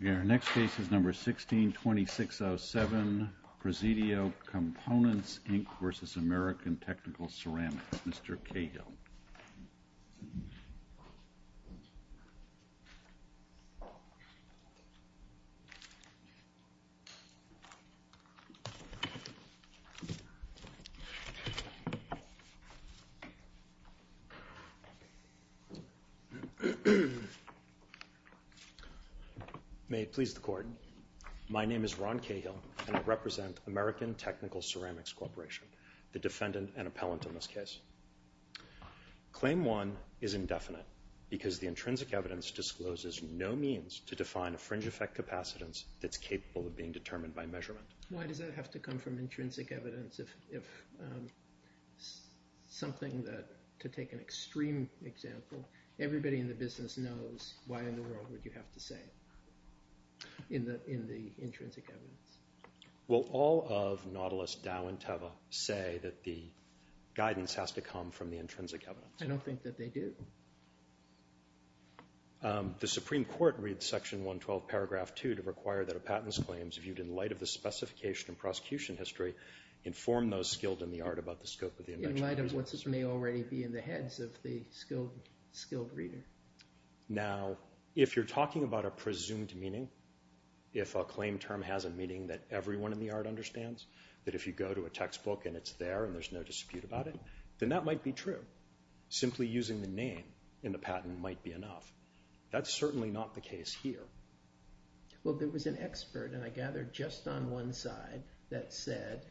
162607 Presidio Components, Inc. v. American Technical Ceramics May it please the Court. My name is Ron Cahill and I represent American Technical Ceramics Corporation, the defendant and appellant in this case. Claim one is indefinite because the intrinsic evidence discloses no means to define a fringe effect capacitance that's capable of being determined by measurement. Why does that have to come from intrinsic evidence if something that, to take an extreme example, everybody in the business knows, why in the world would you have to say it in the intrinsic evidence? Will all of Nautilus, Dow, and Teva say that the guidance has to come from the intrinsic evidence? I don't think that they do. The Supreme Court reads section 112 paragraph 2 to require that a patent's claims viewed in light of the specification and prosecution history inform those skilled in the art about the scope of the invention. In light of what may already be in the heads of the skilled reader. Now if you're talking about a presumed meaning, if a claim term has a meaning that everyone in the art understands, that if you go to a textbook and it's there and there's no dispute about it, then that might be true. Simply using the name in the patent might be enough. That's certainly not the case here. Well there was an expert, and I gather just on one side, that said,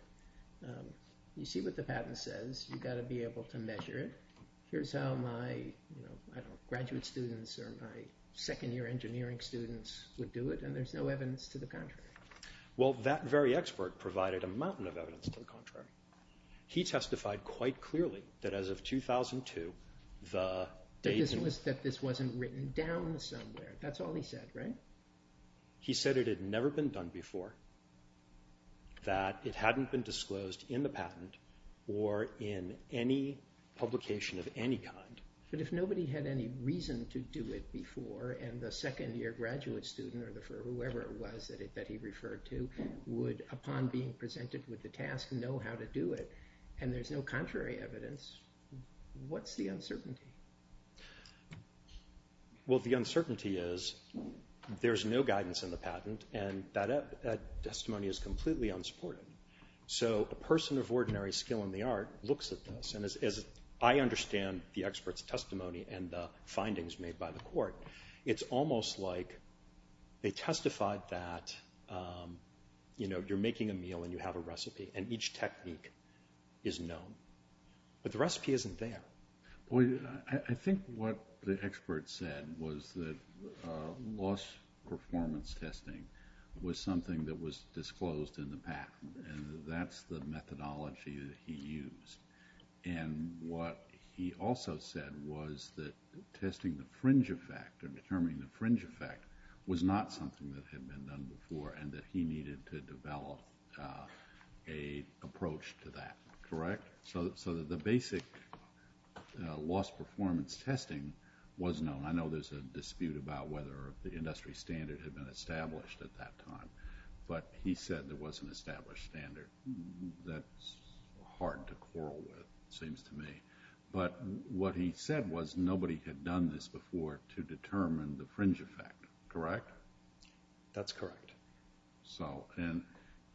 you see what the patent says, you've got to be able to measure it. Here's how my graduate students or my second year engineering students would do it and there's no evidence to the contrary. Well that very expert provided a mountain of evidence to the contrary. He testified quite clearly that as of 2002, the datum. That this wasn't written down somewhere, that's all he said, right? He said it had never been done before, that it hadn't been disclosed in the patent or in any publication of any kind. But if nobody had any reason to do it before and the second year graduate student or whoever it was that he referred to would, upon being presented with the task, know how to do it and there's no contrary evidence, what's the uncertainty? Well the uncertainty is there's no guidance in the patent and that testimony is completely unsupported. So a person of ordinary skill in the art looks at this and as I understand the expert's testimony and the findings made by the court, it's almost like they testified that you're making a meal and you have a recipe and each technique is known. But the recipe isn't there. I think what the expert said was that loss performance testing was something that was disclosed in the patent and that's the methodology that he used. And what he also said was that testing the fringe effect or determining the fringe effect was not something that had been done before and that he needed to develop an approach to that, correct? So the basic loss performance testing was known. I know there's a dispute about whether the industry standard had been established at that time, but he said there was an established standard. That's hard to quarrel with, it seems to me. But what he said was nobody had done this before to determine the fringe effect, correct? That's correct.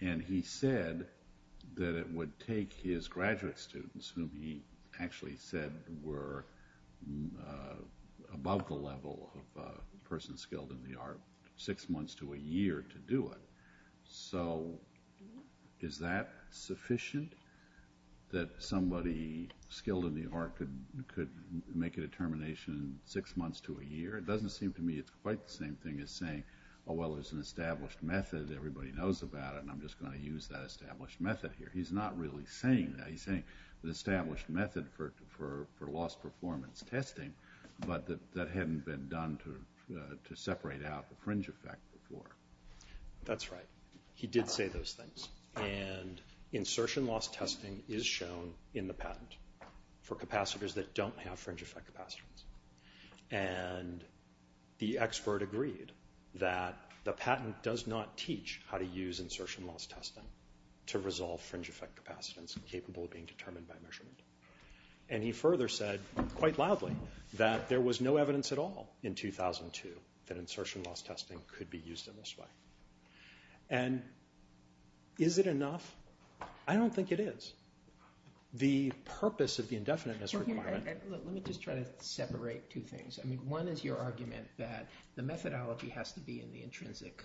And he said that it would take his graduate students, whom he actually said were above the level of a person skilled in the art, six months to a year to do it. So is that sufficient? That somebody skilled in the art could make a determination in six months to a year? It doesn't seem to me it's quite the same thing as saying, oh, well, there's an established method, everybody knows about it, and I'm just going to use that established method here. He's not really saying that. He's saying the established method for loss performance testing, but that hadn't been done to separate out the fringe effect before. That's right. He did say those things, and insertion loss testing is shown in the patent for capacitors that don't have fringe effect capacitors. And the expert agreed that the patent does not teach how to use insertion loss testing to resolve fringe effect capacitance capable of being determined by measurement. And he further said, quite loudly, that there was no evidence at all in 2002 that insertion loss testing could be used in this way. And is it enough? I don't think it is. The purpose of the indefiniteness requirement. Let me just try to separate two things. One is your argument that the methodology has to be in the intrinsic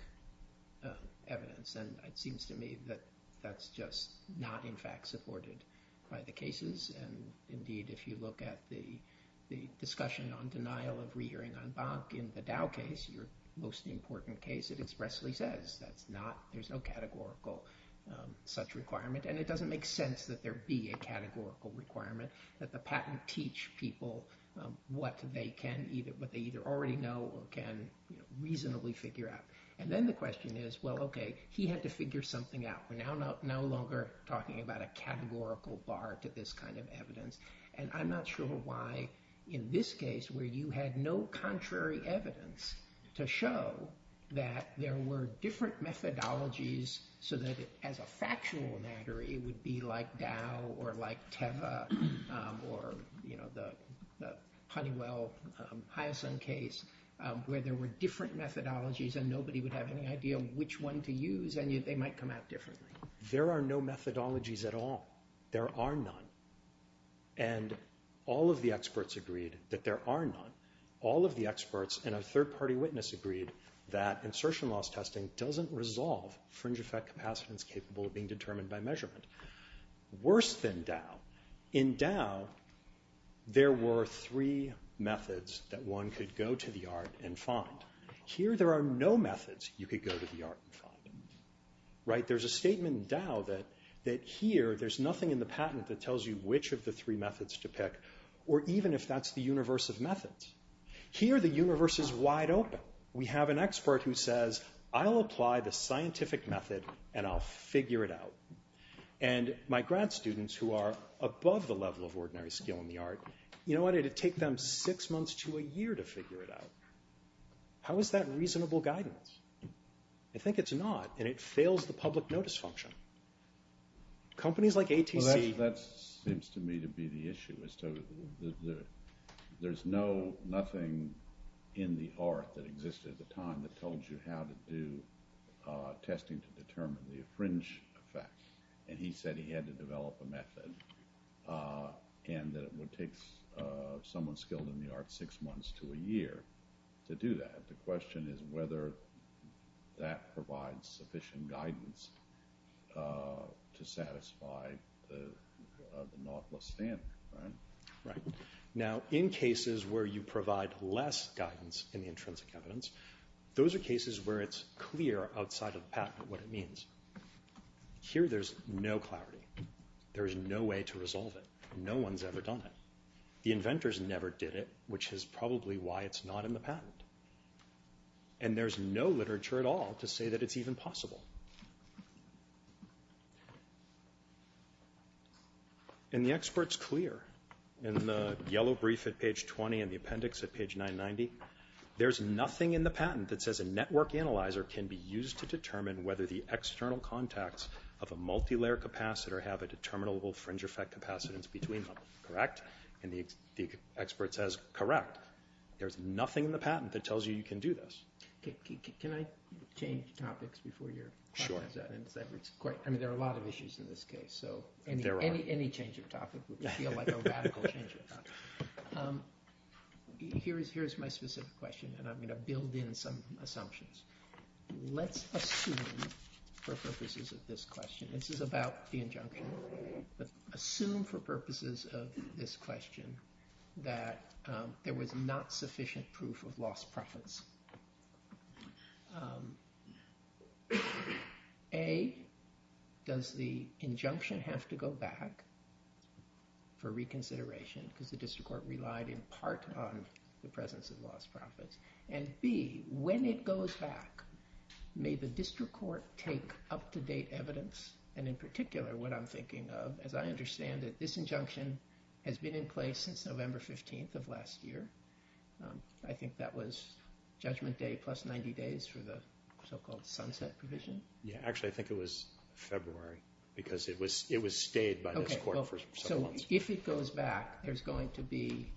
evidence, and it seems to me that that's just not, in fact, supported by the cases, and indeed, if you look at the most important case, it expressly says that there's no categorical such requirement, and it doesn't make sense that there be a categorical requirement, that the patent teach people what they either already know or can reasonably figure out. And then the question is, well, okay, he had to figure something out. We're now no longer talking about a categorical bar to this kind of evidence, and I'm not sure why, in this case, where you had no contrary evidence to show that there were different methodologies so that, as a factual matter, it would be like Dow or like Teva or, you know, the Honeywell-Hyacinth case, where there were different methodologies and nobody would have any idea which one to use, and they might come out differently. There are no methodologies at all. There are none. And all of the experts agreed that there are none. All of the experts and a third-party witness agreed that insertion loss testing doesn't resolve fringe effect capacitance capable of being determined by measurement. Worse than Dow, in Dow, there were three methods that one could go to the yard and find. Here there are no methods you could go to the yard and find, right? There's a statement in Dow that here there's nothing in the patent that tells you which of the three methods to pick, or even if that's the universe of methods. Here the universe is wide open. We have an expert who says, I'll apply the scientific method and I'll figure it out. And my grad students who are above the level of ordinary skill in the art, you know what, it'd take them six months to a year to figure it out. How is that reasonable guidance? I think it's not, and it fails the public notice function. Companies like ATC... Well, that seems to me to be the issue, is to, there's no, nothing in the art that existed at the time that told you how to do testing to determine the fringe effect. And he said he had to develop a method and that it would take someone skilled in the art six months to a year to do that. But the question is whether that provides sufficient guidance to satisfy the Nautilus standard, right? Right. Now, in cases where you provide less guidance in the intrinsic evidence, those are cases where it's clear outside of the patent what it means. Here there's no clarity. There is no way to resolve it. No one's ever done it. The inventors never did it, which is probably why it's not in the patent. And there's no literature at all to say that it's even possible. And the expert's clear in the yellow brief at page 20 and the appendix at page 990. There's nothing in the patent that says a network analyzer can be used to determine whether the external contacts of a multilayer capacitor have a determinable fringe effect of capacitance between them, correct? And the expert says, correct. There's nothing in the patent that tells you you can do this. Can I change topics before your questions end? Sure. I mean, there are a lot of issues in this case, so any change of topic would feel like a radical change of topic. Here's my specific question, and I'm going to build in some assumptions. Let's assume, for purposes of this question, this is about the injunction. Assume, for purposes of this question, that there was not sufficient proof of lost profits. A, does the injunction have to go back for reconsideration? Because the district court relied in part on the presence of lost profits. And B, when it goes back, may the district court take up-to-date evidence, and in particular, what I'm thinking of, as I understand it, this injunction has been in place since November 15th of last year. I think that was judgment day plus 90 days for the so-called sunset provision. Actually, I think it was February, because it was stayed by this court for several months. So if it goes back, there's going to be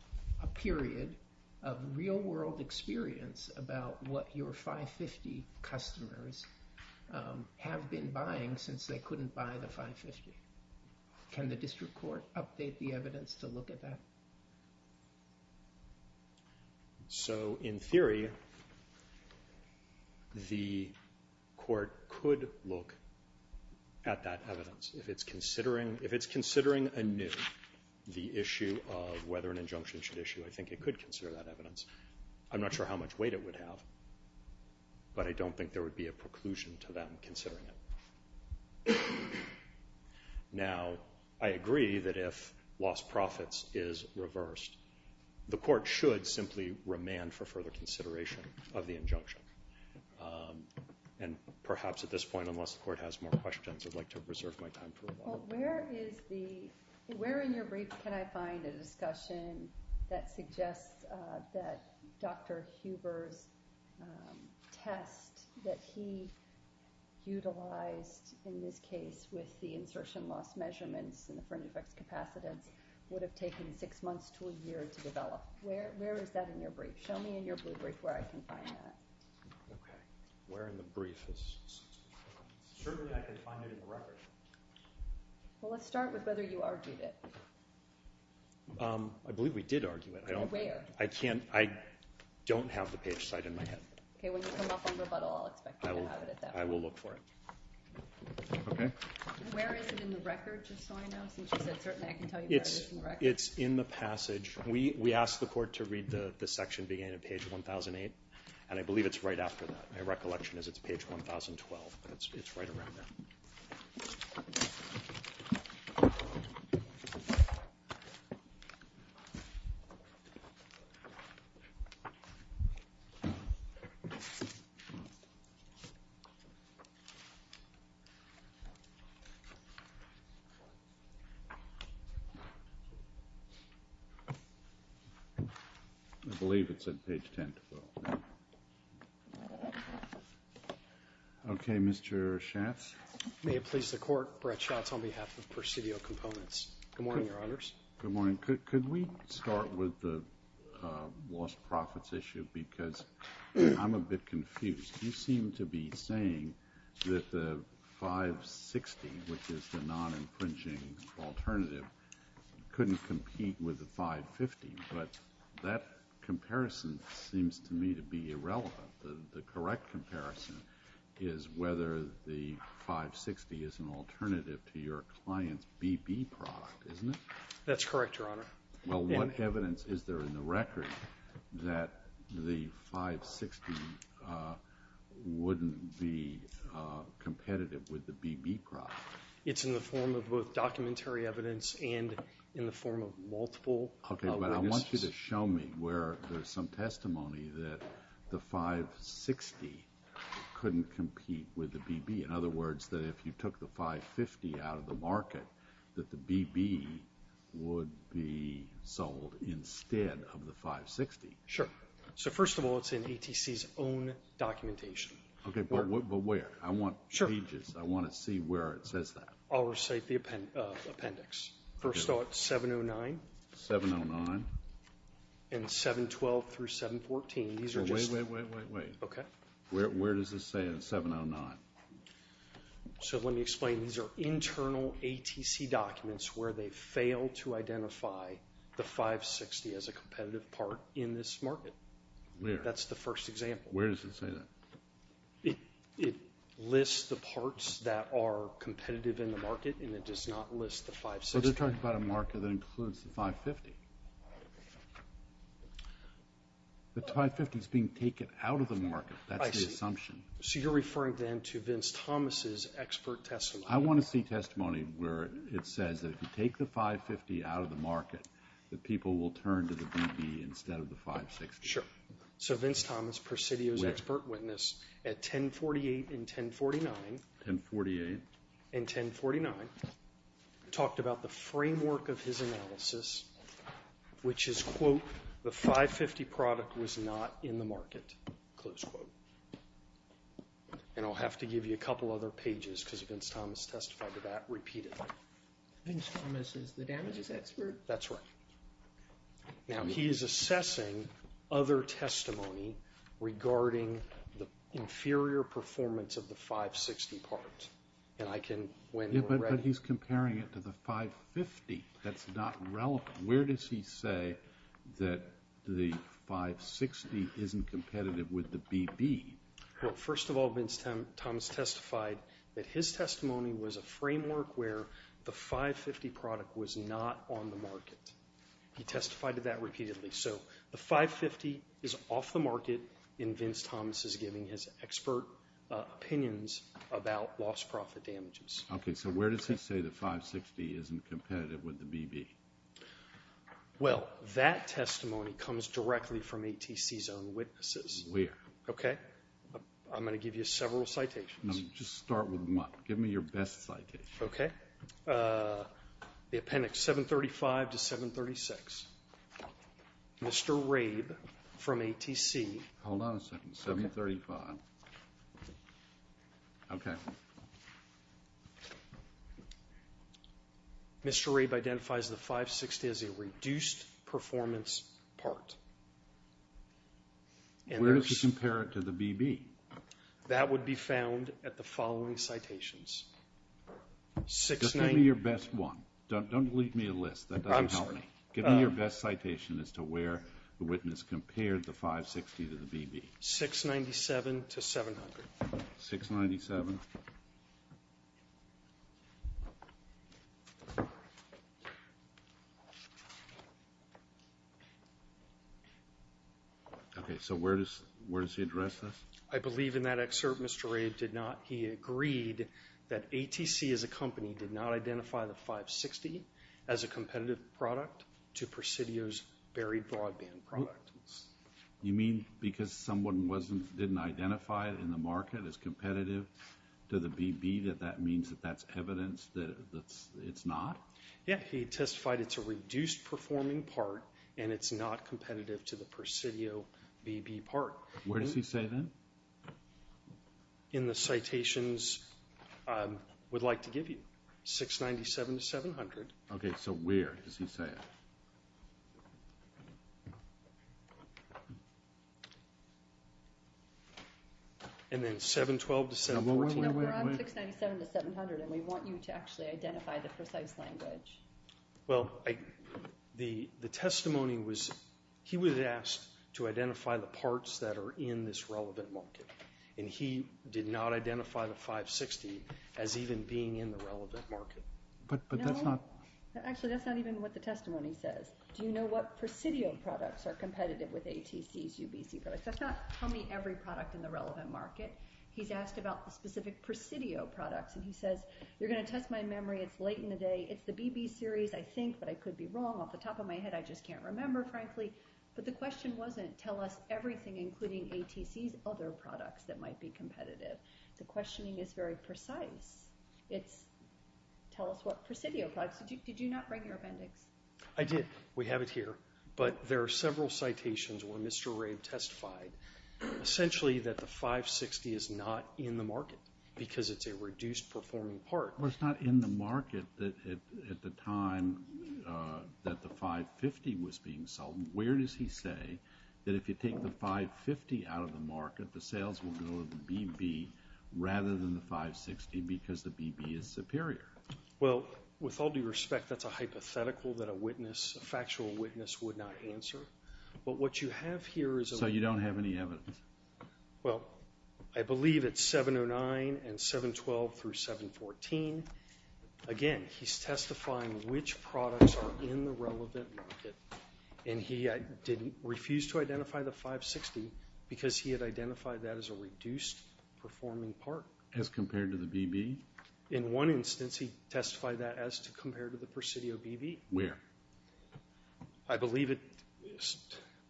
a period of real-world experience about what your 550 customers have been buying since they couldn't buy the 550. Can the district court update the evidence to look at that? So, in theory, the court could look at that evidence. If it's considering anew the issue of whether an injunction should issue, I think it could consider that evidence. I'm not sure how much weight it would have, but I don't think there would be a preclusion to them considering it. Now, I agree that if lost profits is reversed, the court should simply remand for further consideration of the injunction. And perhaps at this point, unless the court has more questions, I'd like to reserve my time for a while. Where in your brief can I find a discussion that suggests that Dr. Huber's test that he utilized in this case with the insertion loss measurements and the fringe effects capacitance would have taken six months to a year to develop? Where is that in your brief? Show me in your blue brief where I can find that. Where in the brief? Certainly, I can find it in the record. Well, let's start with whether you argued it. I believe we did argue it. Where? I don't have the page cite in my head. When you come up on rebuttal, I'll expect you to have it at that point. I will look for it. Where is it in the record, just so I know? Since you said certainly, I can tell you where it is in the record. It's in the passage. We asked the court to read the section beginning at page 1008, and I believe it's right after that. My recollection is it's page 1012. It's right around there. Okay. I believe it's at page 1012. Okay. Mr. Schatz? May it please the Court, Brett Schatz on behalf of Presidio Components. Good morning, Your Honors. Good morning. Could we start with the lost profits issue because I'm a bit confused. You seem to be saying that the 560, which is the non-imprinting alternative, couldn't compete with the 550, but that comparison seems to me to be irrelevant. The correct comparison is whether the 560 is an alternative to your client's BB product, isn't it? That's correct, Your Honor. Well, what evidence is there in the record that the 560 wouldn't be competitive with the BB product? It's in the form of both documentary evidence and in the form of multiple. Okay, but I want you to show me where there's some testimony that the 560 couldn't compete with the BB. In other words, that if you took the 550 out of the market, that the BB would be sold instead of the 560. Sure. So first of all, it's in ATC's own documentation. Okay, but where? I want pages. I want to see where it says that. I'll recite the appendix. First off, 709. 709. And 712 through 714. Wait, wait, wait, wait. Okay. Where does this say in 709? So let me explain. These are internal ATC documents where they fail to identify the 560 as a competitive part in this market. Where? That's the first example. Where does it say that? It lists the parts that are competitive in the market and it does not list the 560. But they're talking about a market that includes the 550. The 550 is being taken out of the market. That's the assumption. I see. So you're referring then to Vince Thomas' expert testimony. I want to see testimony where it says that if you take the 550 out of the market, the people will turn to the BB instead of the 560. Sure. So Vince Thomas, Presidio's expert witness, at 1048 and 1049. 1048. And 1049, talked about the framework of his analysis, which is, quote, the 550 product was not in the market, close quote. And I'll have to give you a couple other pages because Vince Thomas testified to that repeatedly. Vince Thomas is the damages expert? That's right. Now he is assessing other testimony regarding the inferior performance of the 560 parts. Yeah, but he's comparing it to the 550. That's not relevant. Where does he say that the 560 isn't competitive with the BB? Well, first of all, Vince Thomas testified that his testimony was a framework where the 550 product was not on the market. He testified to that repeatedly. So the 550 is off the market, and Vince Thomas is giving his expert opinions about lost profit damages. Okay. So where does he say the 560 isn't competitive with the BB? Well, that testimony comes directly from ATC's own witnesses. Where? Okay. I'm going to give you several citations. Just start with one. Give me your best citation. Okay. The appendix 735 to 736. Mr. Rabe from ATC. Hold on a second. 735. Okay. Mr. Rabe identifies the 560 as a reduced performance part. Where does he compare it to the BB? That would be found at the following citations. Just give me your best one. Don't leave me a list. That doesn't help me. Give me your best citation as to where the witness compared the 560 to the BB. 697 to 700. 697. Okay. So where does he address this? I believe in that excerpt, Mr. Rabe did not. He agreed that ATC as a company did not identify the 560 as a You mean because someone didn't identify it in the market as competitive to the BB that that means that that's evidence that it's not? Yeah. He testified it's a reduced performing part and it's not competitive to the Presidio BB part. Where does he say that? In the citations I would like to give you. 697 to 700. Okay. So where does he say it? And then 712 to 714? No, we're on 697 to 700 and we want you to actually identify the precise language. Well, the testimony was he was asked to identify the parts that are in this relevant market. And he did not identify the 560 as even being in the relevant market. But that's not. Actually, that's not even what the testimony says. Do you know what Presidio products are competitive with ATC's UBC products? That's not tell me every product in the relevant market. He's asked about the specific Presidio products. And he says, you're going to test my memory. It's late in the day. It's the BB series. I think, but I could be wrong off the top of my head. I just can't remember, frankly. But the question wasn't tell us everything, including ATC's other products that might be competitive. The questioning is very precise. It's tell us what Presidio products. Did you not bring your appendix? I did. We have it here. But there are several citations where Mr. Rabe testified essentially that the 560 is not in the market because it's a reduced performing part. Well, it's not in the market at the time that the 550 was being sold. Where does he say that if you take the 550 out of the market, that the sales will go to the BB rather than the 560 because the BB is superior? Well, with all due respect, that's a hypothetical that a witness, a factual witness would not answer. But what you have here is a- So you don't have any evidence? Well, I believe it's 709 and 712 through 714. Again, he's testifying which products are in the relevant market. And he didn't refuse to identify the 560 because he had identified that as a reduced performing part. As compared to the BB? In one instance, he testified that as compared to the Presidio BB. Where? I believe it's,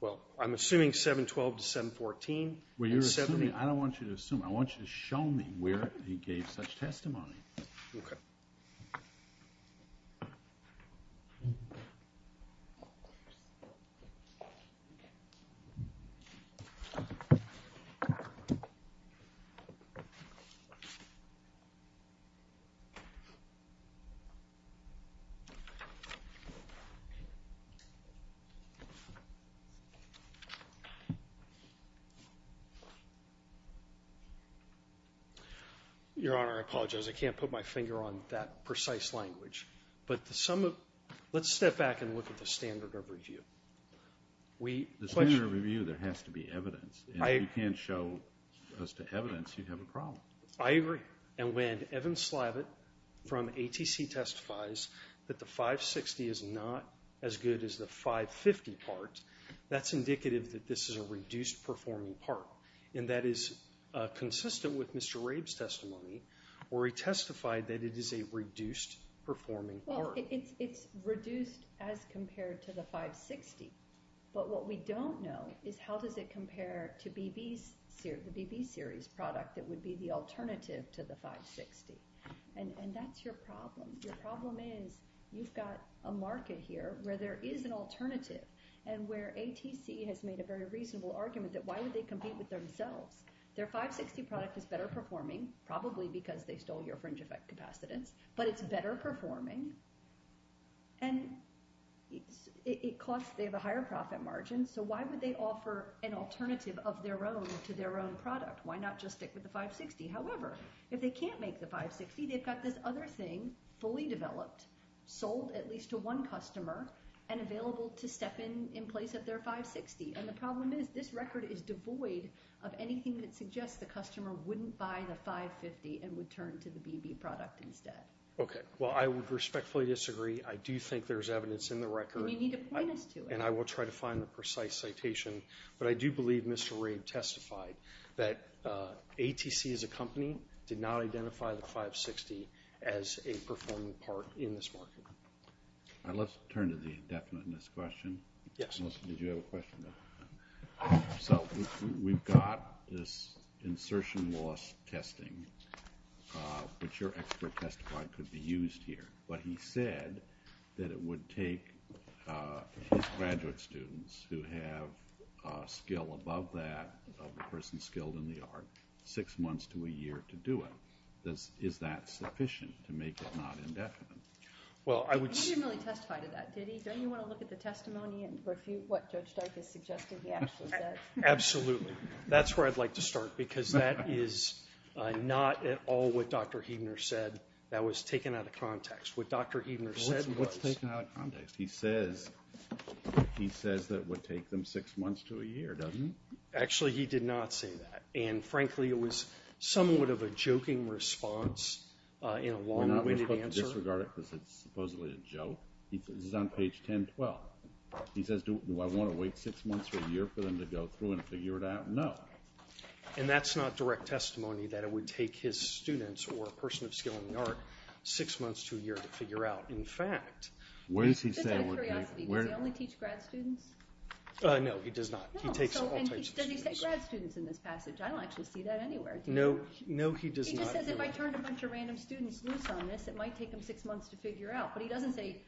well, I'm assuming 712 to 714. Well, you're assuming, I don't want you to assume. I want you to show me where he gave such testimony. Okay. Your Honor, I apologize. I can't put my finger on that precise language. But the sum of, let's step back and look at the standard of review. The standard of review, there has to be evidence. If you can't show us the evidence, you have a problem. I agree. And when Evan Slavitt from ATC testifies that the 560 is not as good as the 550 part, that's indicative that this is a reduced performing part. And that is consistent with Mr. Rabe's testimony where he testified that it is a reduced performing part. Well, it's reduced as compared to the 560. But what we don't know is how does it compare to the BB series product that would be the alternative to the 560. And that's your problem. Your problem is you've got a market here where there is an alternative and where ATC has made a very reasonable argument that why would they compete with themselves? Their 560 product is better performing, probably because they stole your fringe effect capacitance, but it's better performing. And it costs, they have a higher profit margin. So why would they offer an alternative of their own to their own product? Why not just stick with the 560? However, if they can't make the 560, they've got this other thing fully developed, sold at least to one customer, and available to step in in place of their 560. And the problem is this record is devoid of anything that suggests the customer wouldn't buy the 550 and would turn to the BB product instead. Okay. Well, I would respectfully disagree. I do think there's evidence in the record. And you need to point us to it. And I will try to find the precise citation. But I do believe Mr. Rabe testified that ATC as a company did not identify the 560 as a performing part in this market. Let's turn to the indefiniteness question. Yes. Melissa, did you have a question? So we've got this insertion loss testing, which your expert testified could be used here. But he said that it would take his graduate students who have a skill above that of the person skilled in the art six months to a year to do it. Is that sufficient to make it not indefinite? Well, I would say... He didn't really testify to that, did he? Don't you want to look at the testimony and what Judge Stark has suggested he actually said? Absolutely. That's where I'd like to start because that is not at all what Dr. Heidner said. That was taken out of context. What Dr. Heidner said was... What's taken out of context? He says that it would take them six months to a year, doesn't he? Actually, he did not say that. And frankly, it was somewhat of a joking response in a long-winded answer. We're not going to have to disregard it because it's supposedly a joke. This is on page 1012. He says, do I want to wait six months or a year for them to go through and figure it out? No. And that's not direct testimony that it would take his students or a person of skill in the art six months to a year to figure out. In fact... What is he saying? Just out of curiosity, does he only teach grad students? No, he does not. He takes all types of students. Does he say grad students in this passage? I don't actually see that anywhere. No, he does not. He just says if I turned a bunch of random students loose on this, it might take them six months to figure out. But he doesn't say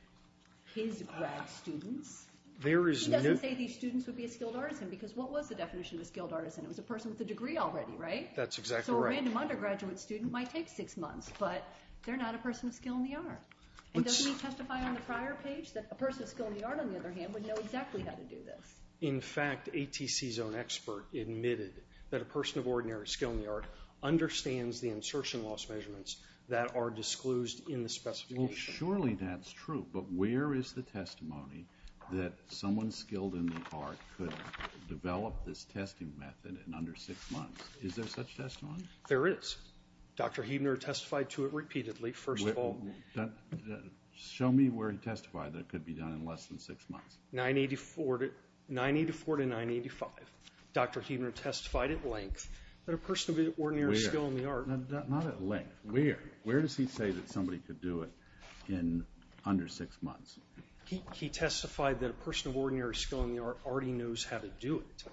his grad students. He doesn't say these students would be a skilled artisan because what was the definition of a skilled artisan? It was a person with a degree already, right? That's exactly right. A random undergraduate student might take six months, but they're not a person of skill in the art. And doesn't he testify on the prior page that a person of skill in the art, on the other hand, would know exactly how to do this? In fact, ATC's own expert admitted that a person of ordinary skill in the art understands the insertion loss measurements that are disclosed in the specification. Well, surely that's true, but where is the testimony that someone skilled in the art could develop this testing method in under six months? Is there such testimony? There is. Dr. Huebner testified to it repeatedly, first of all. Show me where he testified that it could be done in less than six months. 984 to 985. Dr. Huebner testified at length that a person of ordinary skill in the art- Where? Not at length. Where? Where does he say that somebody could do it in under six months? He testified that a person of ordinary skill in the art already knows how to do it.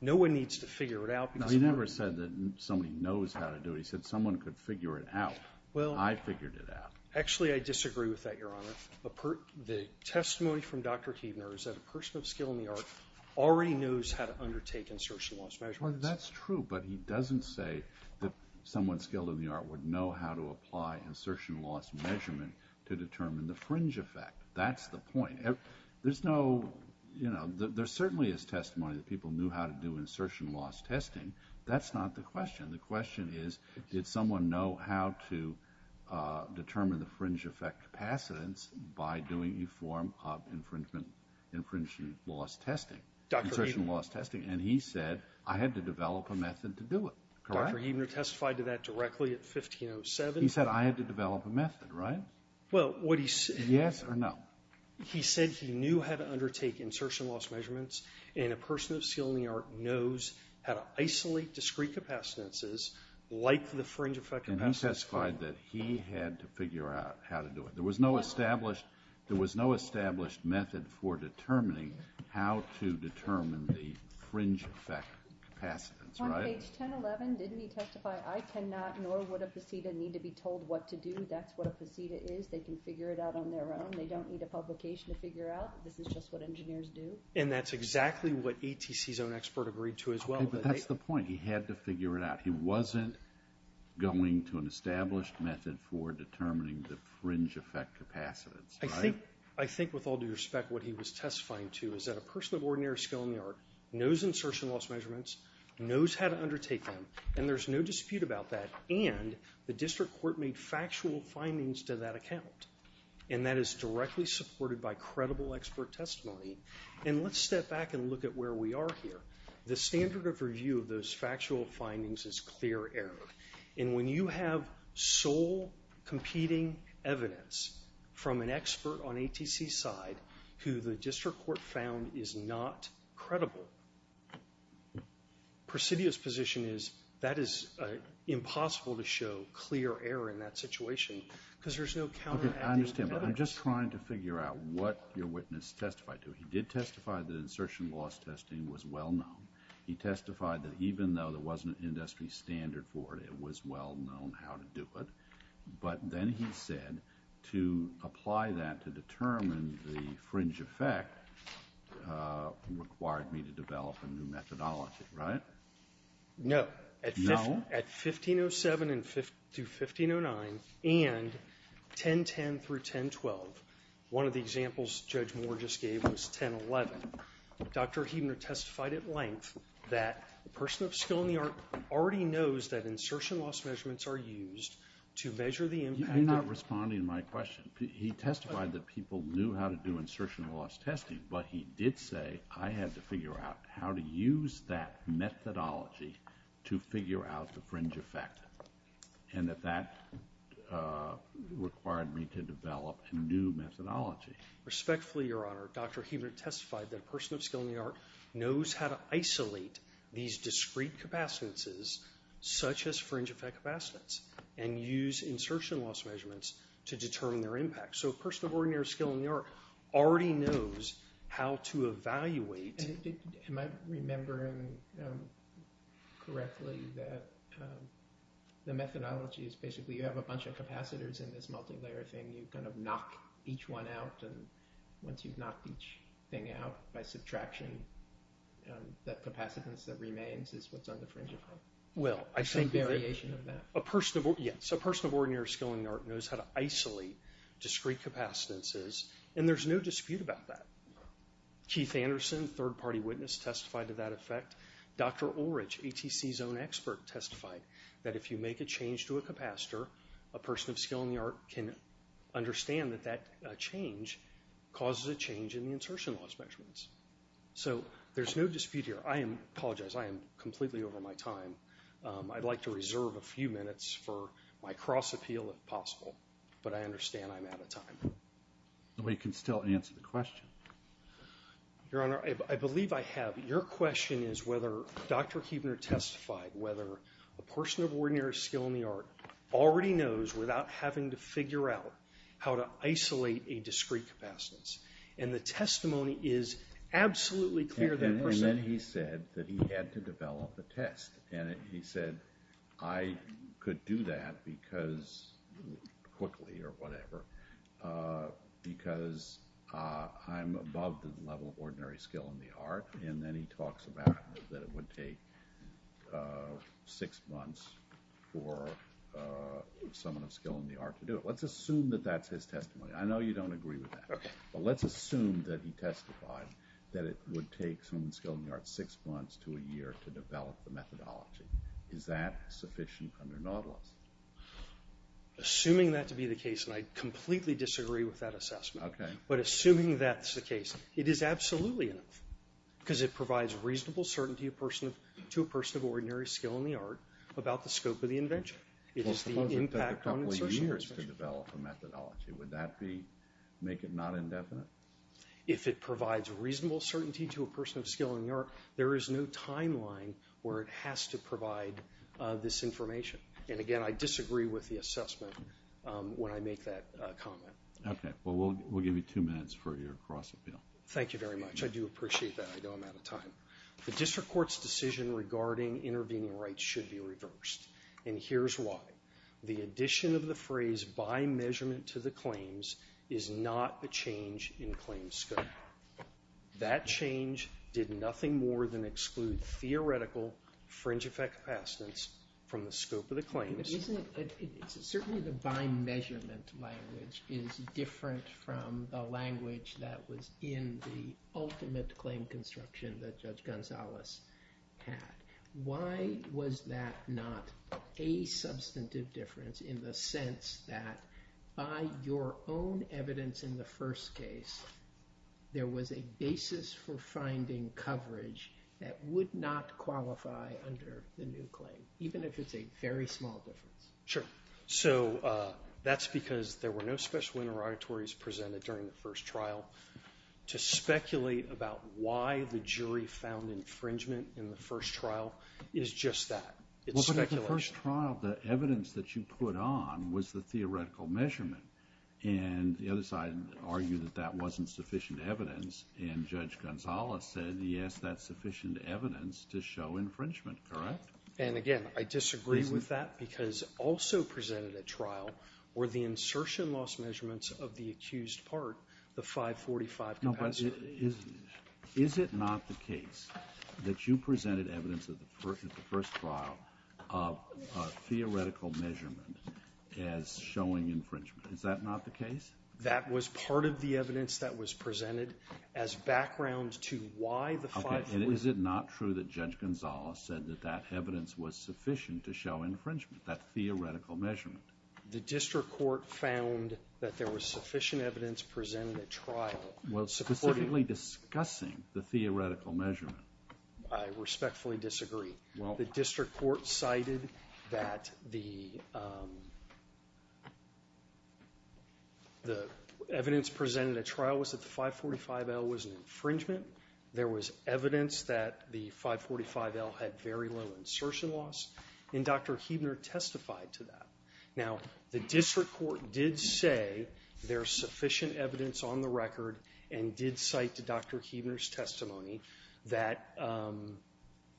No one needs to figure it out because- No, he never said that somebody knows how to do it. He said someone could figure it out. Well- I figured it out. Actually, I disagree with that, Your Honor. The testimony from Dr. Huebner is that a person of skill in the art already knows how to undertake insertion loss measurements. Well, that's true, but he doesn't say that someone skilled in the art would know how to apply insertion loss measurement to determine the fringe effect. That's the point. There's no, you know, there certainly is testimony that people knew how to do insertion loss testing. That's not the question. The question is, did someone know how to determine the fringe effect capacitance by doing a form of infringement- infringement loss testing? Dr. Huebner- Insertion loss testing. And he said, I had to develop a method to do it. Correct? Dr. Huebner testified to that directly at 1507. He said I had to develop a method, right? Well, what he said- Yes or no? He said he knew how to undertake insertion loss measurements and a person of skill in the art knows how to isolate discrete capacitances like the fringe effect- And he testified that he had to figure out how to do it. There was no established- there was no established method for determining how to determine the fringe effect capacitance, right? On page 1011, didn't he testify, I cannot nor would a faceta need to be told what to do. That's what a faceta is. They can figure it out on their own. They don't need a publication to figure out. This is just what engineers do. And that's exactly what ATC's own expert agreed to as well. But that's the point. He had to figure it out. He wasn't going to an established method for determining the fringe effect capacitance, right? I think, with all due respect, what he was testifying to is that a person of ordinary skill in the art knows insertion loss measurements, knows how to undertake them, and there's no dispute about that. And the district court made factual findings to that account. And that is directly supported by credible expert testimony. And let's step back and look at where we are here. The standard of review of those factual findings is clear error. And when you have sole competing evidence from an expert on ATC's side who the district court found is not credible, Presidio's position is that is impossible to show clear error in that situation because there's no counteracting evidence. I understand, but I'm just trying to figure out what your witness testified to. He did testify that insertion loss testing was well known. He testified that even though there wasn't an industry standard for it, it was well known how to do it. But then he said to apply that to determine the fringe effect required me to develop a new methodology, right? No. No? At 1507 through 1509 and 1010 through 1012, one of the examples Judge Moore just gave was 1011. Dr. Huebner testified at length that a person of skill in the art already knows that insertion loss measurements are used to measure the impact of- You're not responding to my question. He testified that people knew how to do insertion loss testing, but he did say I had to figure out how to use that methodology to figure out the fringe effect and that that required me to develop a new methodology. Respectfully, Your Honor, Dr. Huebner testified that a person of skill in the art knows how to isolate these discrete capacitances such as fringe effect capacitance and use insertion loss measurements to determine their impact. So a person of ordinary skill in the art already knows how to evaluate- Am I remembering correctly that the methodology is basically you have a bunch of capacitors in this multilayer thing, you kind of knock each one out and once you've knocked each thing out by subtraction, that capacitance that remains is what's on the fringe effect? Well, I think- It's a variation of that. Yes. A person of ordinary skill in the art knows how to isolate discrete capacitances and there's no dispute about that. Keith Anderson, third party witness, testified to that effect. Dr. Ulrich, ATC's own expert, testified that if you make a capacitor, a person of skill in the art can understand that that change causes a change in the insertion loss measurements. So there's no dispute here. I apologize, I am completely over my time. I'd like to reserve a few minutes for my cross-appeal if possible, but I understand I'm out of time. We can still answer the question. Your Honor, I believe I have. Your question is whether Dr. Huebner testified whether a person of skill in the art already knows without having to figure out how to isolate a discrete capacitance. And the testimony is absolutely clear that a person- And then he said that he had to develop a test. And he said, I could do that because, quickly or whatever, because I'm above the level of ordinary skill in the art. And then he talks about that it would take six months for someone of skill in the art to do it. Let's assume that that's his testimony. I know you don't agree with that. But let's assume that he testified that it would take someone skilled in the art six months to a year to develop the methodology. Is that sufficient under Nautilus? Assuming that to be the case, and I completely disagree with that assessment, but assuming that's the case, it is because it provides reasonable certainty to a person of ordinary skill in the art about the scope of the invention. It is the impact- Well, suppose it took a couple of years to develop a methodology. Would that make it not indefinite? If it provides reasonable certainty to a person of skill in the art, there is no timeline where it has to provide this information. And, again, I disagree with the assessment when I make that comment. Okay. Well, we'll give you two minutes for your cross-appeal. Thank you very much. Thank you very much. I do appreciate that. I know I'm out of time. The district court's decision regarding intervening rights should be reversed. And here's why. The addition of the phrase by measurement to the claims is not a change in claims scope. That change did nothing more than exclude theoretical fringe-effect capacitance from the scope of the claims. But isn't it- certainly the by measurement language is different from the language that was in the ultimate claim construction that Judge Gonzalez had. Why was that not a substantive difference in the sense that by your own evidence in the first case, there was a basis for finding coverage that would not qualify under the new claim, even if it's a very small difference? Sure. So that's because there were no special interrogatories presented during the first trial. To speculate about why the jury found infringement in the first trial is just that. It's speculation. Well, but in the first trial, the evidence that you put on was the theoretical measurement. And the other side argued that that wasn't sufficient evidence. And Judge Gonzalez said, yes, that's sufficient evidence to show infringement. Correct? And again, I disagree with that because also presented at trial were the insertion loss measurements of the accused part, the 545 capacitor. No, but is it not the case that you presented evidence at the first trial of theoretical measurement as showing infringement? Is that not the case? That was part of the evidence that was presented as background to why the 545- Okay. And is it not true that Judge Gonzalez said that that evidence was sufficient to show infringement, that theoretical measurement? The district court found that there was sufficient evidence presented at trial. Well, specifically discussing the theoretical measurement. I respectfully disagree. The district court cited that the evidence presented at trial was that the 545L was an infringement. There was evidence that the 545L had very low insertion loss. And Dr. Huebner testified to that. Now, the district court did say there's sufficient evidence on the record and did cite to Dr. Huebner's testimony that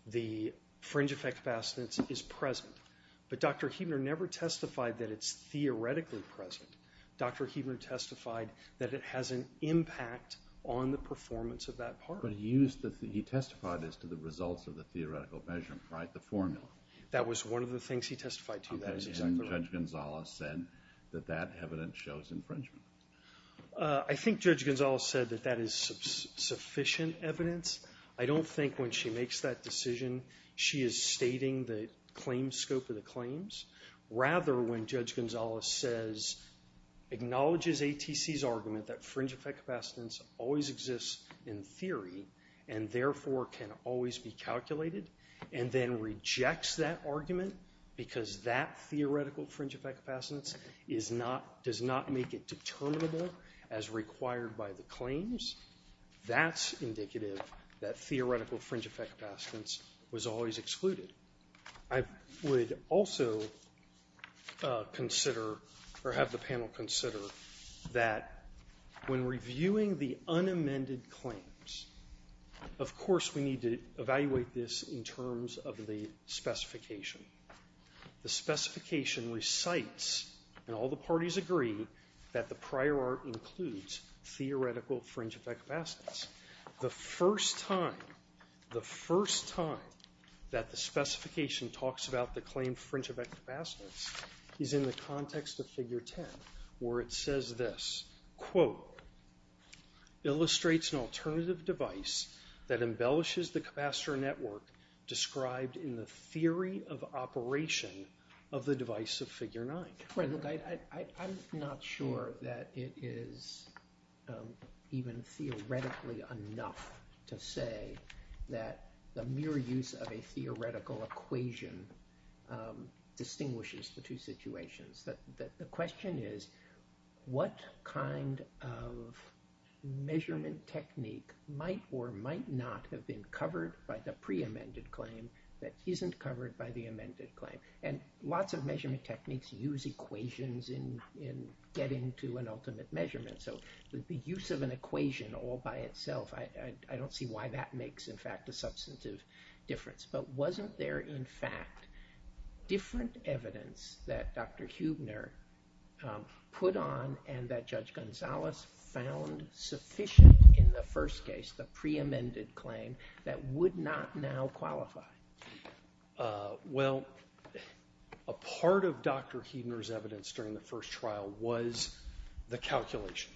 the fringe effect capacitance is present. But Dr. Huebner never testified that it's theoretically present. Dr. Huebner testified that it has an impact on the performance of that part. But he testified as to the results of the theoretical measurement, right? The formula. That was one of the things he testified to. And Judge Gonzalez said that that evidence shows infringement. I think Judge Gonzalez said that that is sufficient evidence. I don't think when she makes that decision, she is stating the scope of the claims. Rather, when Judge Gonzalez says, acknowledges ATC's argument that fringe effect capacitance always exists in theory and, therefore, can always be calculated, and then rejects that argument because that theoretical fringe effect capacitance does not make it determinable as required by the claims, that's indicative that theoretical fringe effect capacitance was always excluded. I would also consider or have the panel consider that when reviewing the unamended claims, of course, we need to evaluate this in terms of the specification. The specification recites, and all the parties agree, that the prior art includes theoretical fringe effect capacitance. The first time that the specification talks about the claim fringe effect capacitance is in the context of figure 10 where it says this, quote, illustrates an alternative device that embellishes the capacitor network described in the theory of operation of the device of figure 9. I'm not sure that it is even theoretically enough to say that the mere use of a theoretical equation distinguishes the two situations. The question is, what kind of measurement technique might or might not have been covered by the preamended claim that isn't covered by the amended claim? And lots of measurement techniques use equations in getting to an ultimate measurement, so the use of an equation all by itself, I don't see why that makes, in fact, a substantive difference. But wasn't there, in fact, different evidence that Dr. Huebner put on and that Judge Gonzales found sufficient in the first case, the preamended claim, that would not now qualify? Well, a part of Dr. Huebner's evidence during the first trial was the calculation,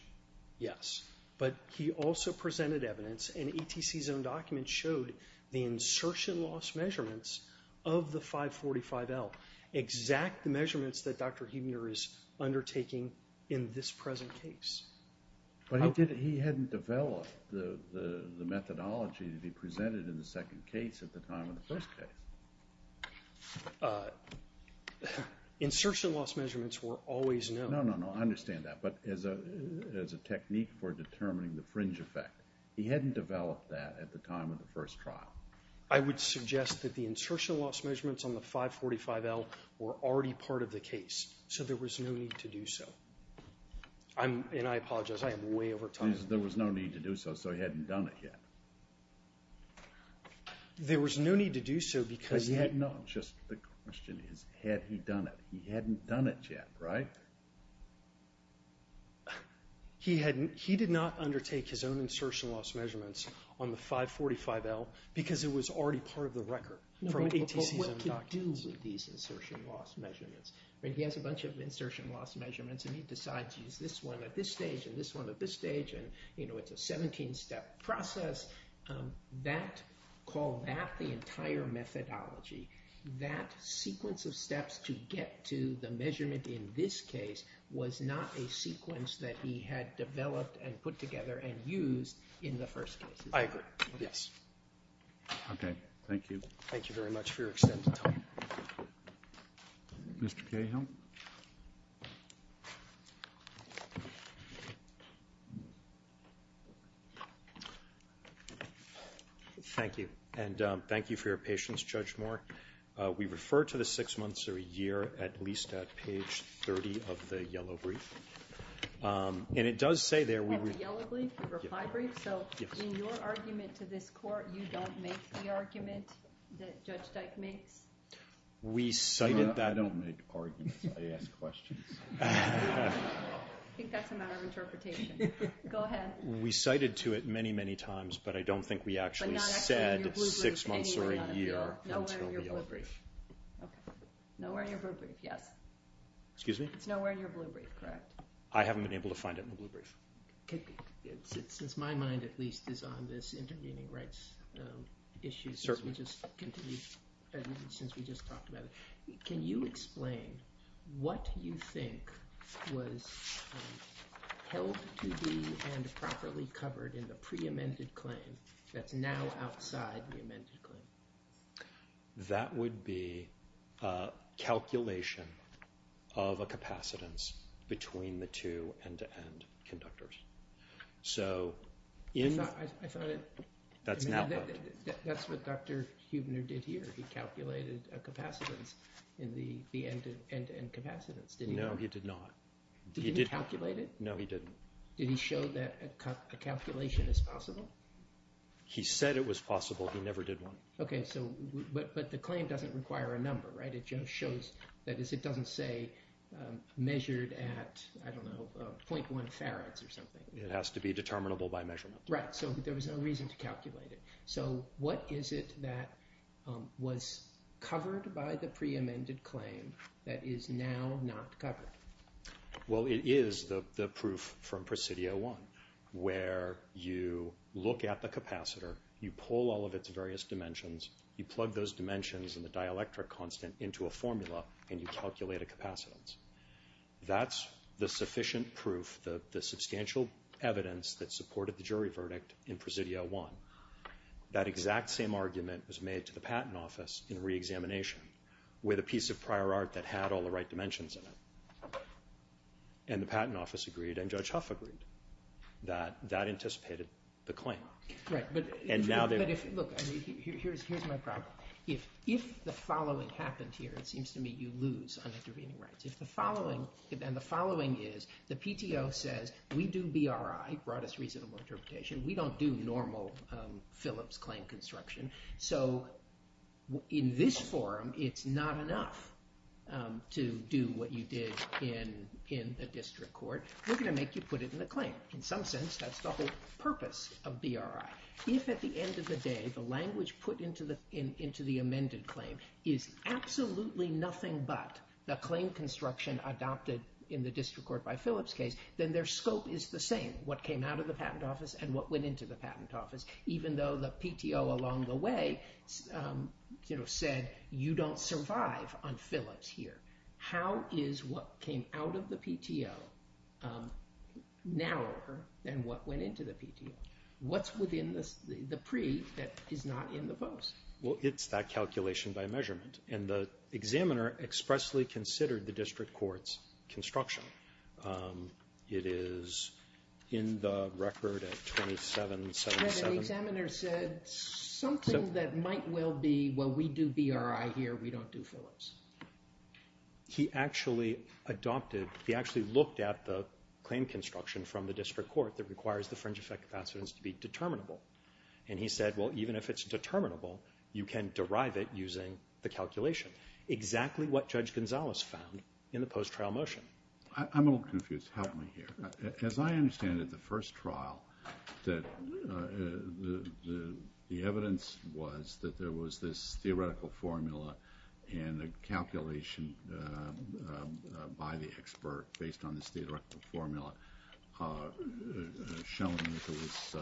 yes. But he also presented evidence, and ETC's own document showed the insertion loss measurements of the 545L, exact measurements that Dr. Huebner is undertaking in this present case. But he hadn't developed the methodology to be presented in the second case at the time of the first case. Insertion loss measurements were always known. No, no, no. I understand that. But as a technique for determining the fringe effect, he hadn't developed that at the time of the first trial. I would suggest that the insertion loss measurements on the 545L were already part of the case, so there was no need to do so. And I apologize, I am way over time. There was no need to do so, so he hadn't done it yet. There was no need to do so because he had... No, just the question is, had he done it? He hadn't done it yet, right? He did not undertake his own insertion loss measurements on the 545L because it was already part of the record from ETC's own documents. But what to do with these insertion loss measurements? He has a bunch of insertion loss measurements, and he decides to use this one at this stage and this one at this stage, and it's a 17-step process. Call that the entire methodology. That sequence of steps to get to the measurement in this case was not a sequence that he had developed and put together and used in the first case. I agree. Yes. Okay. Thank you. Thank you very much for your extended time. Mr. Cahill? Thank you, and thank you for your patience, Judge Moore. We refer to the six months or a year at least at page 30 of the yellow brief, and it does say there... At the yellow brief, the reply brief? Yes. So in your argument to this court, you don't make the argument that Judge Dyke makes? No, I don't make arguments. I don't make arguments. I ask questions. I think that's a matter of interpretation. Go ahead. We cited to it many, many times, but I don't think we actually said six months or a year until the yellow brief. Nowhere in your blue brief, yes. Excuse me? It's nowhere in your blue brief, correct? I haven't been able to find it in the blue brief. Since my mind at least is on this intervening rights issues, since we just talked about it, can you explain what you think was held to be and properly covered in the pre-amended claim that's now outside the amended claim? That would be calculation of a capacitance between the two end-to-end conductors. So in... I thought it... That's now... That's what Dr. Huebner did here. He calculated a capacitance in the end-to-end capacitance, didn't he? No, he did not. Did he calculate it? No, he didn't. Did he show that a calculation is possible? He said it was possible. He never did one. Okay, so... But the claim doesn't require a number, right? It just shows... That is, it doesn't say measured at, I don't know, 0.1 farads or something. It has to be determinable by measurement. Right. So there was no reason to calculate it. So what is it that was covered by the pre-amended claim that is now not covered? Well, it is the proof from Presidio I, where you look at the capacitor, you pull all of its various dimensions, you plug those dimensions in the dielectric constant into a formula, and you calculate a capacitance. That's the sufficient proof, the substantial evidence that supported the jury verdict in Presidio I. That exact same argument was made to the Patent Office in re-examination with a piece of prior art that had all the right dimensions in it. And the Patent Office agreed, and Judge Huff agreed that that anticipated the claim. Right, but... And now they... Look, here's my problem. If the following happened here, it seems to me you lose on intervening rights. If the following, and the following is the PTO says, we do BRI, Broadest Reasonable Interpretation, we don't do normal Phillips claim construction. So in this forum, it's not enough to do what you did in the district court. We're going to make you put it in the claim. In some sense, that's the whole purpose of BRI. If at the end of the day, the language put into the amended claim is absolutely nothing but the claim construction adopted in the district court by Phillips case, then their scope is the same. What came out of the Patent Office and what went into the Patent Office, even though the PTO along the way said, you don't survive on Phillips here. How is what came out of the PTO narrower than what went into the PTO? What's within the pre that is not in the post? Well, it's that calculation by measurement. And the examiner expressly considered the district court's construction. It is in the record at 2777. And the examiner said something that might well be, well, we do BRI here, we don't do Phillips. He actually adopted, he actually looked at the claim construction from the district court that requires the fringe effect capacitance to be determinable. And he said, well, even if it's determinable, you can derive it using the calculation. Exactly what Judge Gonzalez found in the post-trial motion. I'm a little confused. Help me here. As I understand it, the first trial, the evidence was that there was this theoretical formula and a calculation by the expert based on this theoretical formula showing that there was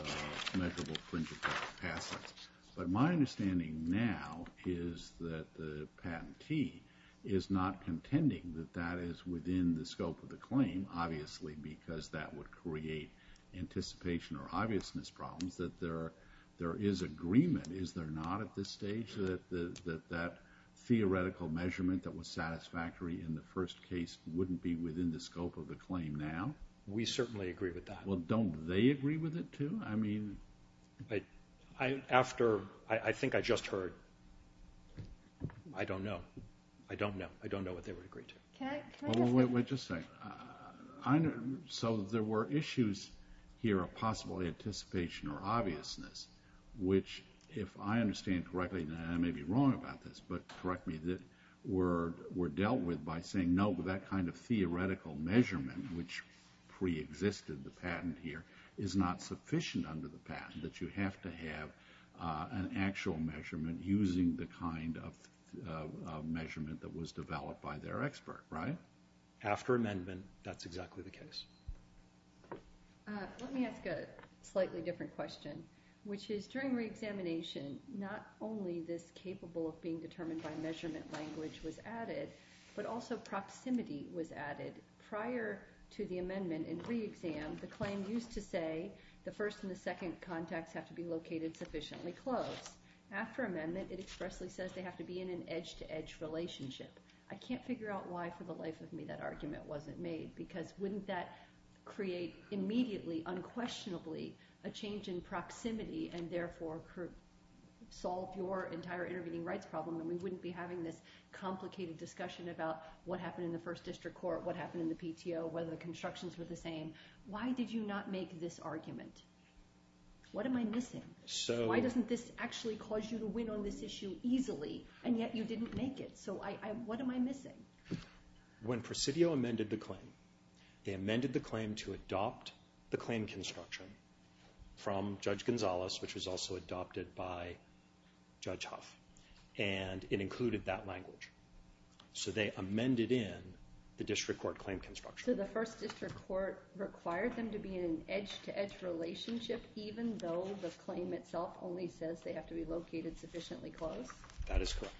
measurable fringe effect capacitance. But my understanding now is that the patentee is not contending that that is within the scope of the claim, obviously, because that would create anticipation or obviousness problems, that there is agreement, is there not, at this stage, that that theoretical measurement that was satisfactory in the first case wouldn't be within the scope of the claim now? We certainly agree with that. Well, don't they agree with it, too? I mean... After... I think I just heard... I don't know. I don't know. I don't know what they would agree to. Can I just... Wait, just a second. So there were issues here of possible anticipation or obviousness, which, if I understand correctly, and I may be wrong about this, but correct me, that were dealt with by saying, no, that kind of theoretical measurement, which preexisted the patent here, is not sufficient under the patent, that you have to have an actual measurement using the kind of measurement that was developed by their expert, right? After amendment, that's exactly the case. Let me ask a slightly different question, which is, during reexamination, not only this capable of being determined by measurement language was added, but also proximity was added. Prior to the amendment in reexam, the claim used to say the first and the second contacts have to be located sufficiently close. After amendment, it expressly says they have to be in an edge-to-edge relationship. I can't figure out why, for the life of me, that argument wasn't made, because wouldn't that create immediately, unquestionably, a change in proximity, and therefore solve your entire intervening rights problem, and we wouldn't be having this complicated discussion about what happened in the first district court, what happened in the PTO, whether the constructions were the same. Why did you not make this argument? What am I missing? Why doesn't this actually cause you to win on this issue easily, and yet you didn't make it, so what am I missing? When Presidio amended the claim, they amended the claim to adopt the claim construction from Judge Gonzales, which was also adopted by Judge Huff, and it included that language. So they amended in the district court claim construction. So the first district court required them to be in an edge-to-edge relationship, even though the claim itself only says they have to be located sufficiently close? That is correct.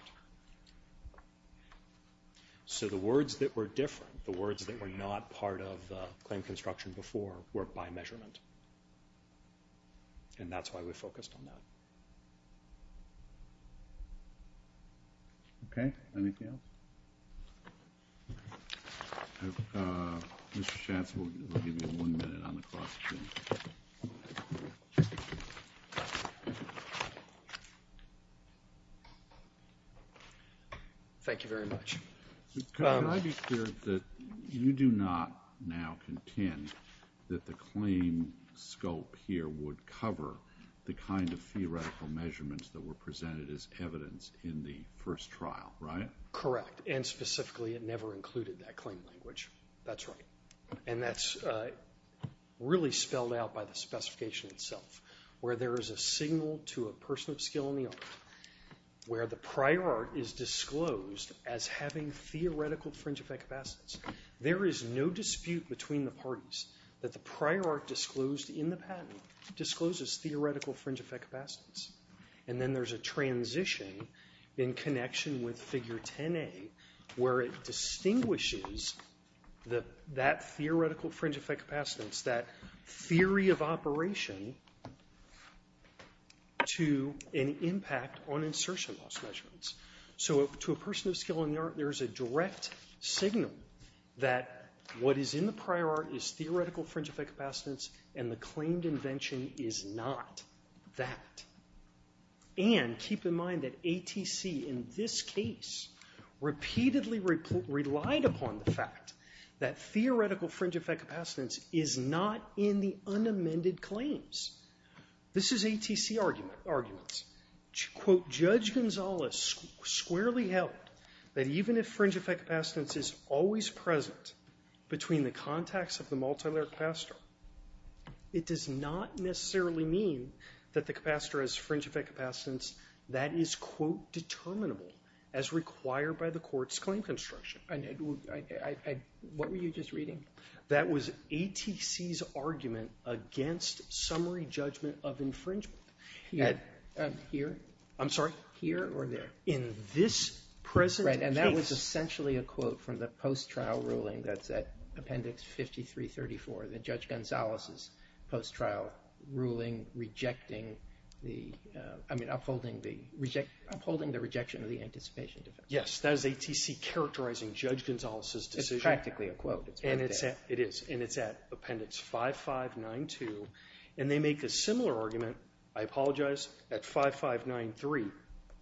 So the words that were different, the words that were not part of the claim construction before, were by measurement, and that's why we focused on that. Okay, anything else? Uh, Mr. Schatz, we'll give you one minute on the question. Thank you very much. Could I be clear that you do not now contend that the claim scope here would cover the kind of theoretical evidence and theoretical measurements that were presented as evidence in the first trial, right? Correct, and specifically, it never included that claim language. That's right. And that's really spelled out by the specification itself, where there is a signal to a person of skill in the art where the prior art is disclosed as having theoretical fringe effect capacities. There is no dispute between the parties that the prior art disclosed in the patent discloses theoretical fringe effect capacities. And then there's a transition in connection with Figure 10A where it distinguishes that theoretical fringe effect capacitance, that theory of operation, to an impact on insertion loss measurements. So to a person of skill in the art, there's a direct signal that what is in the prior art is theoretical fringe effect capacitance and the claimed invention is not that. And keep in mind that ATC in this case repeatedly relied upon the fact that theoretical fringe effect capacitance is not in the unamended claims. This is ATC arguments. Quote, Judge Gonzales squarely held that even if fringe effect capacitance is always present between the contacts of the multilayer capacitor, it does not necessarily mean that the capacitor has fringe effect capacitance that is, quote, determinable as required by the court's claim construction. What were you just reading? That was ATC's argument against summary judgment of infringement. Here? I'm sorry? Here or there? In this present case. Right, and that was essentially a quote from the post-trial ruling that's at Appendix 5334, the Judge Gonzales' post-trial ruling rejecting the... I mean, upholding the rejection of the anticipation defense. Yes, that is ATC characterizing Judge Gonzales' decision. It's practically a quote. It is, and it's at Appendix 5592, and they make a similar argument, I apologize, at 5593,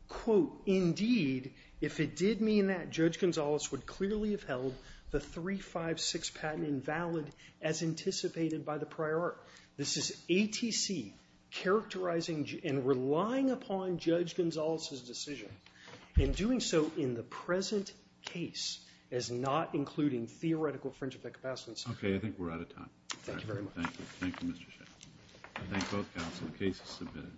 quote, Indeed, if it did mean that, Judge Gonzales would clearly have held the 356 patent invalid as anticipated by the prior art. This is ATC characterizing and relying upon Judge Gonzales' decision in doing so in the present case as not including theoretical fringe effect capacitance. Okay, I think we're out of time. Thank you very much. I thank both counsel. The case is submitted.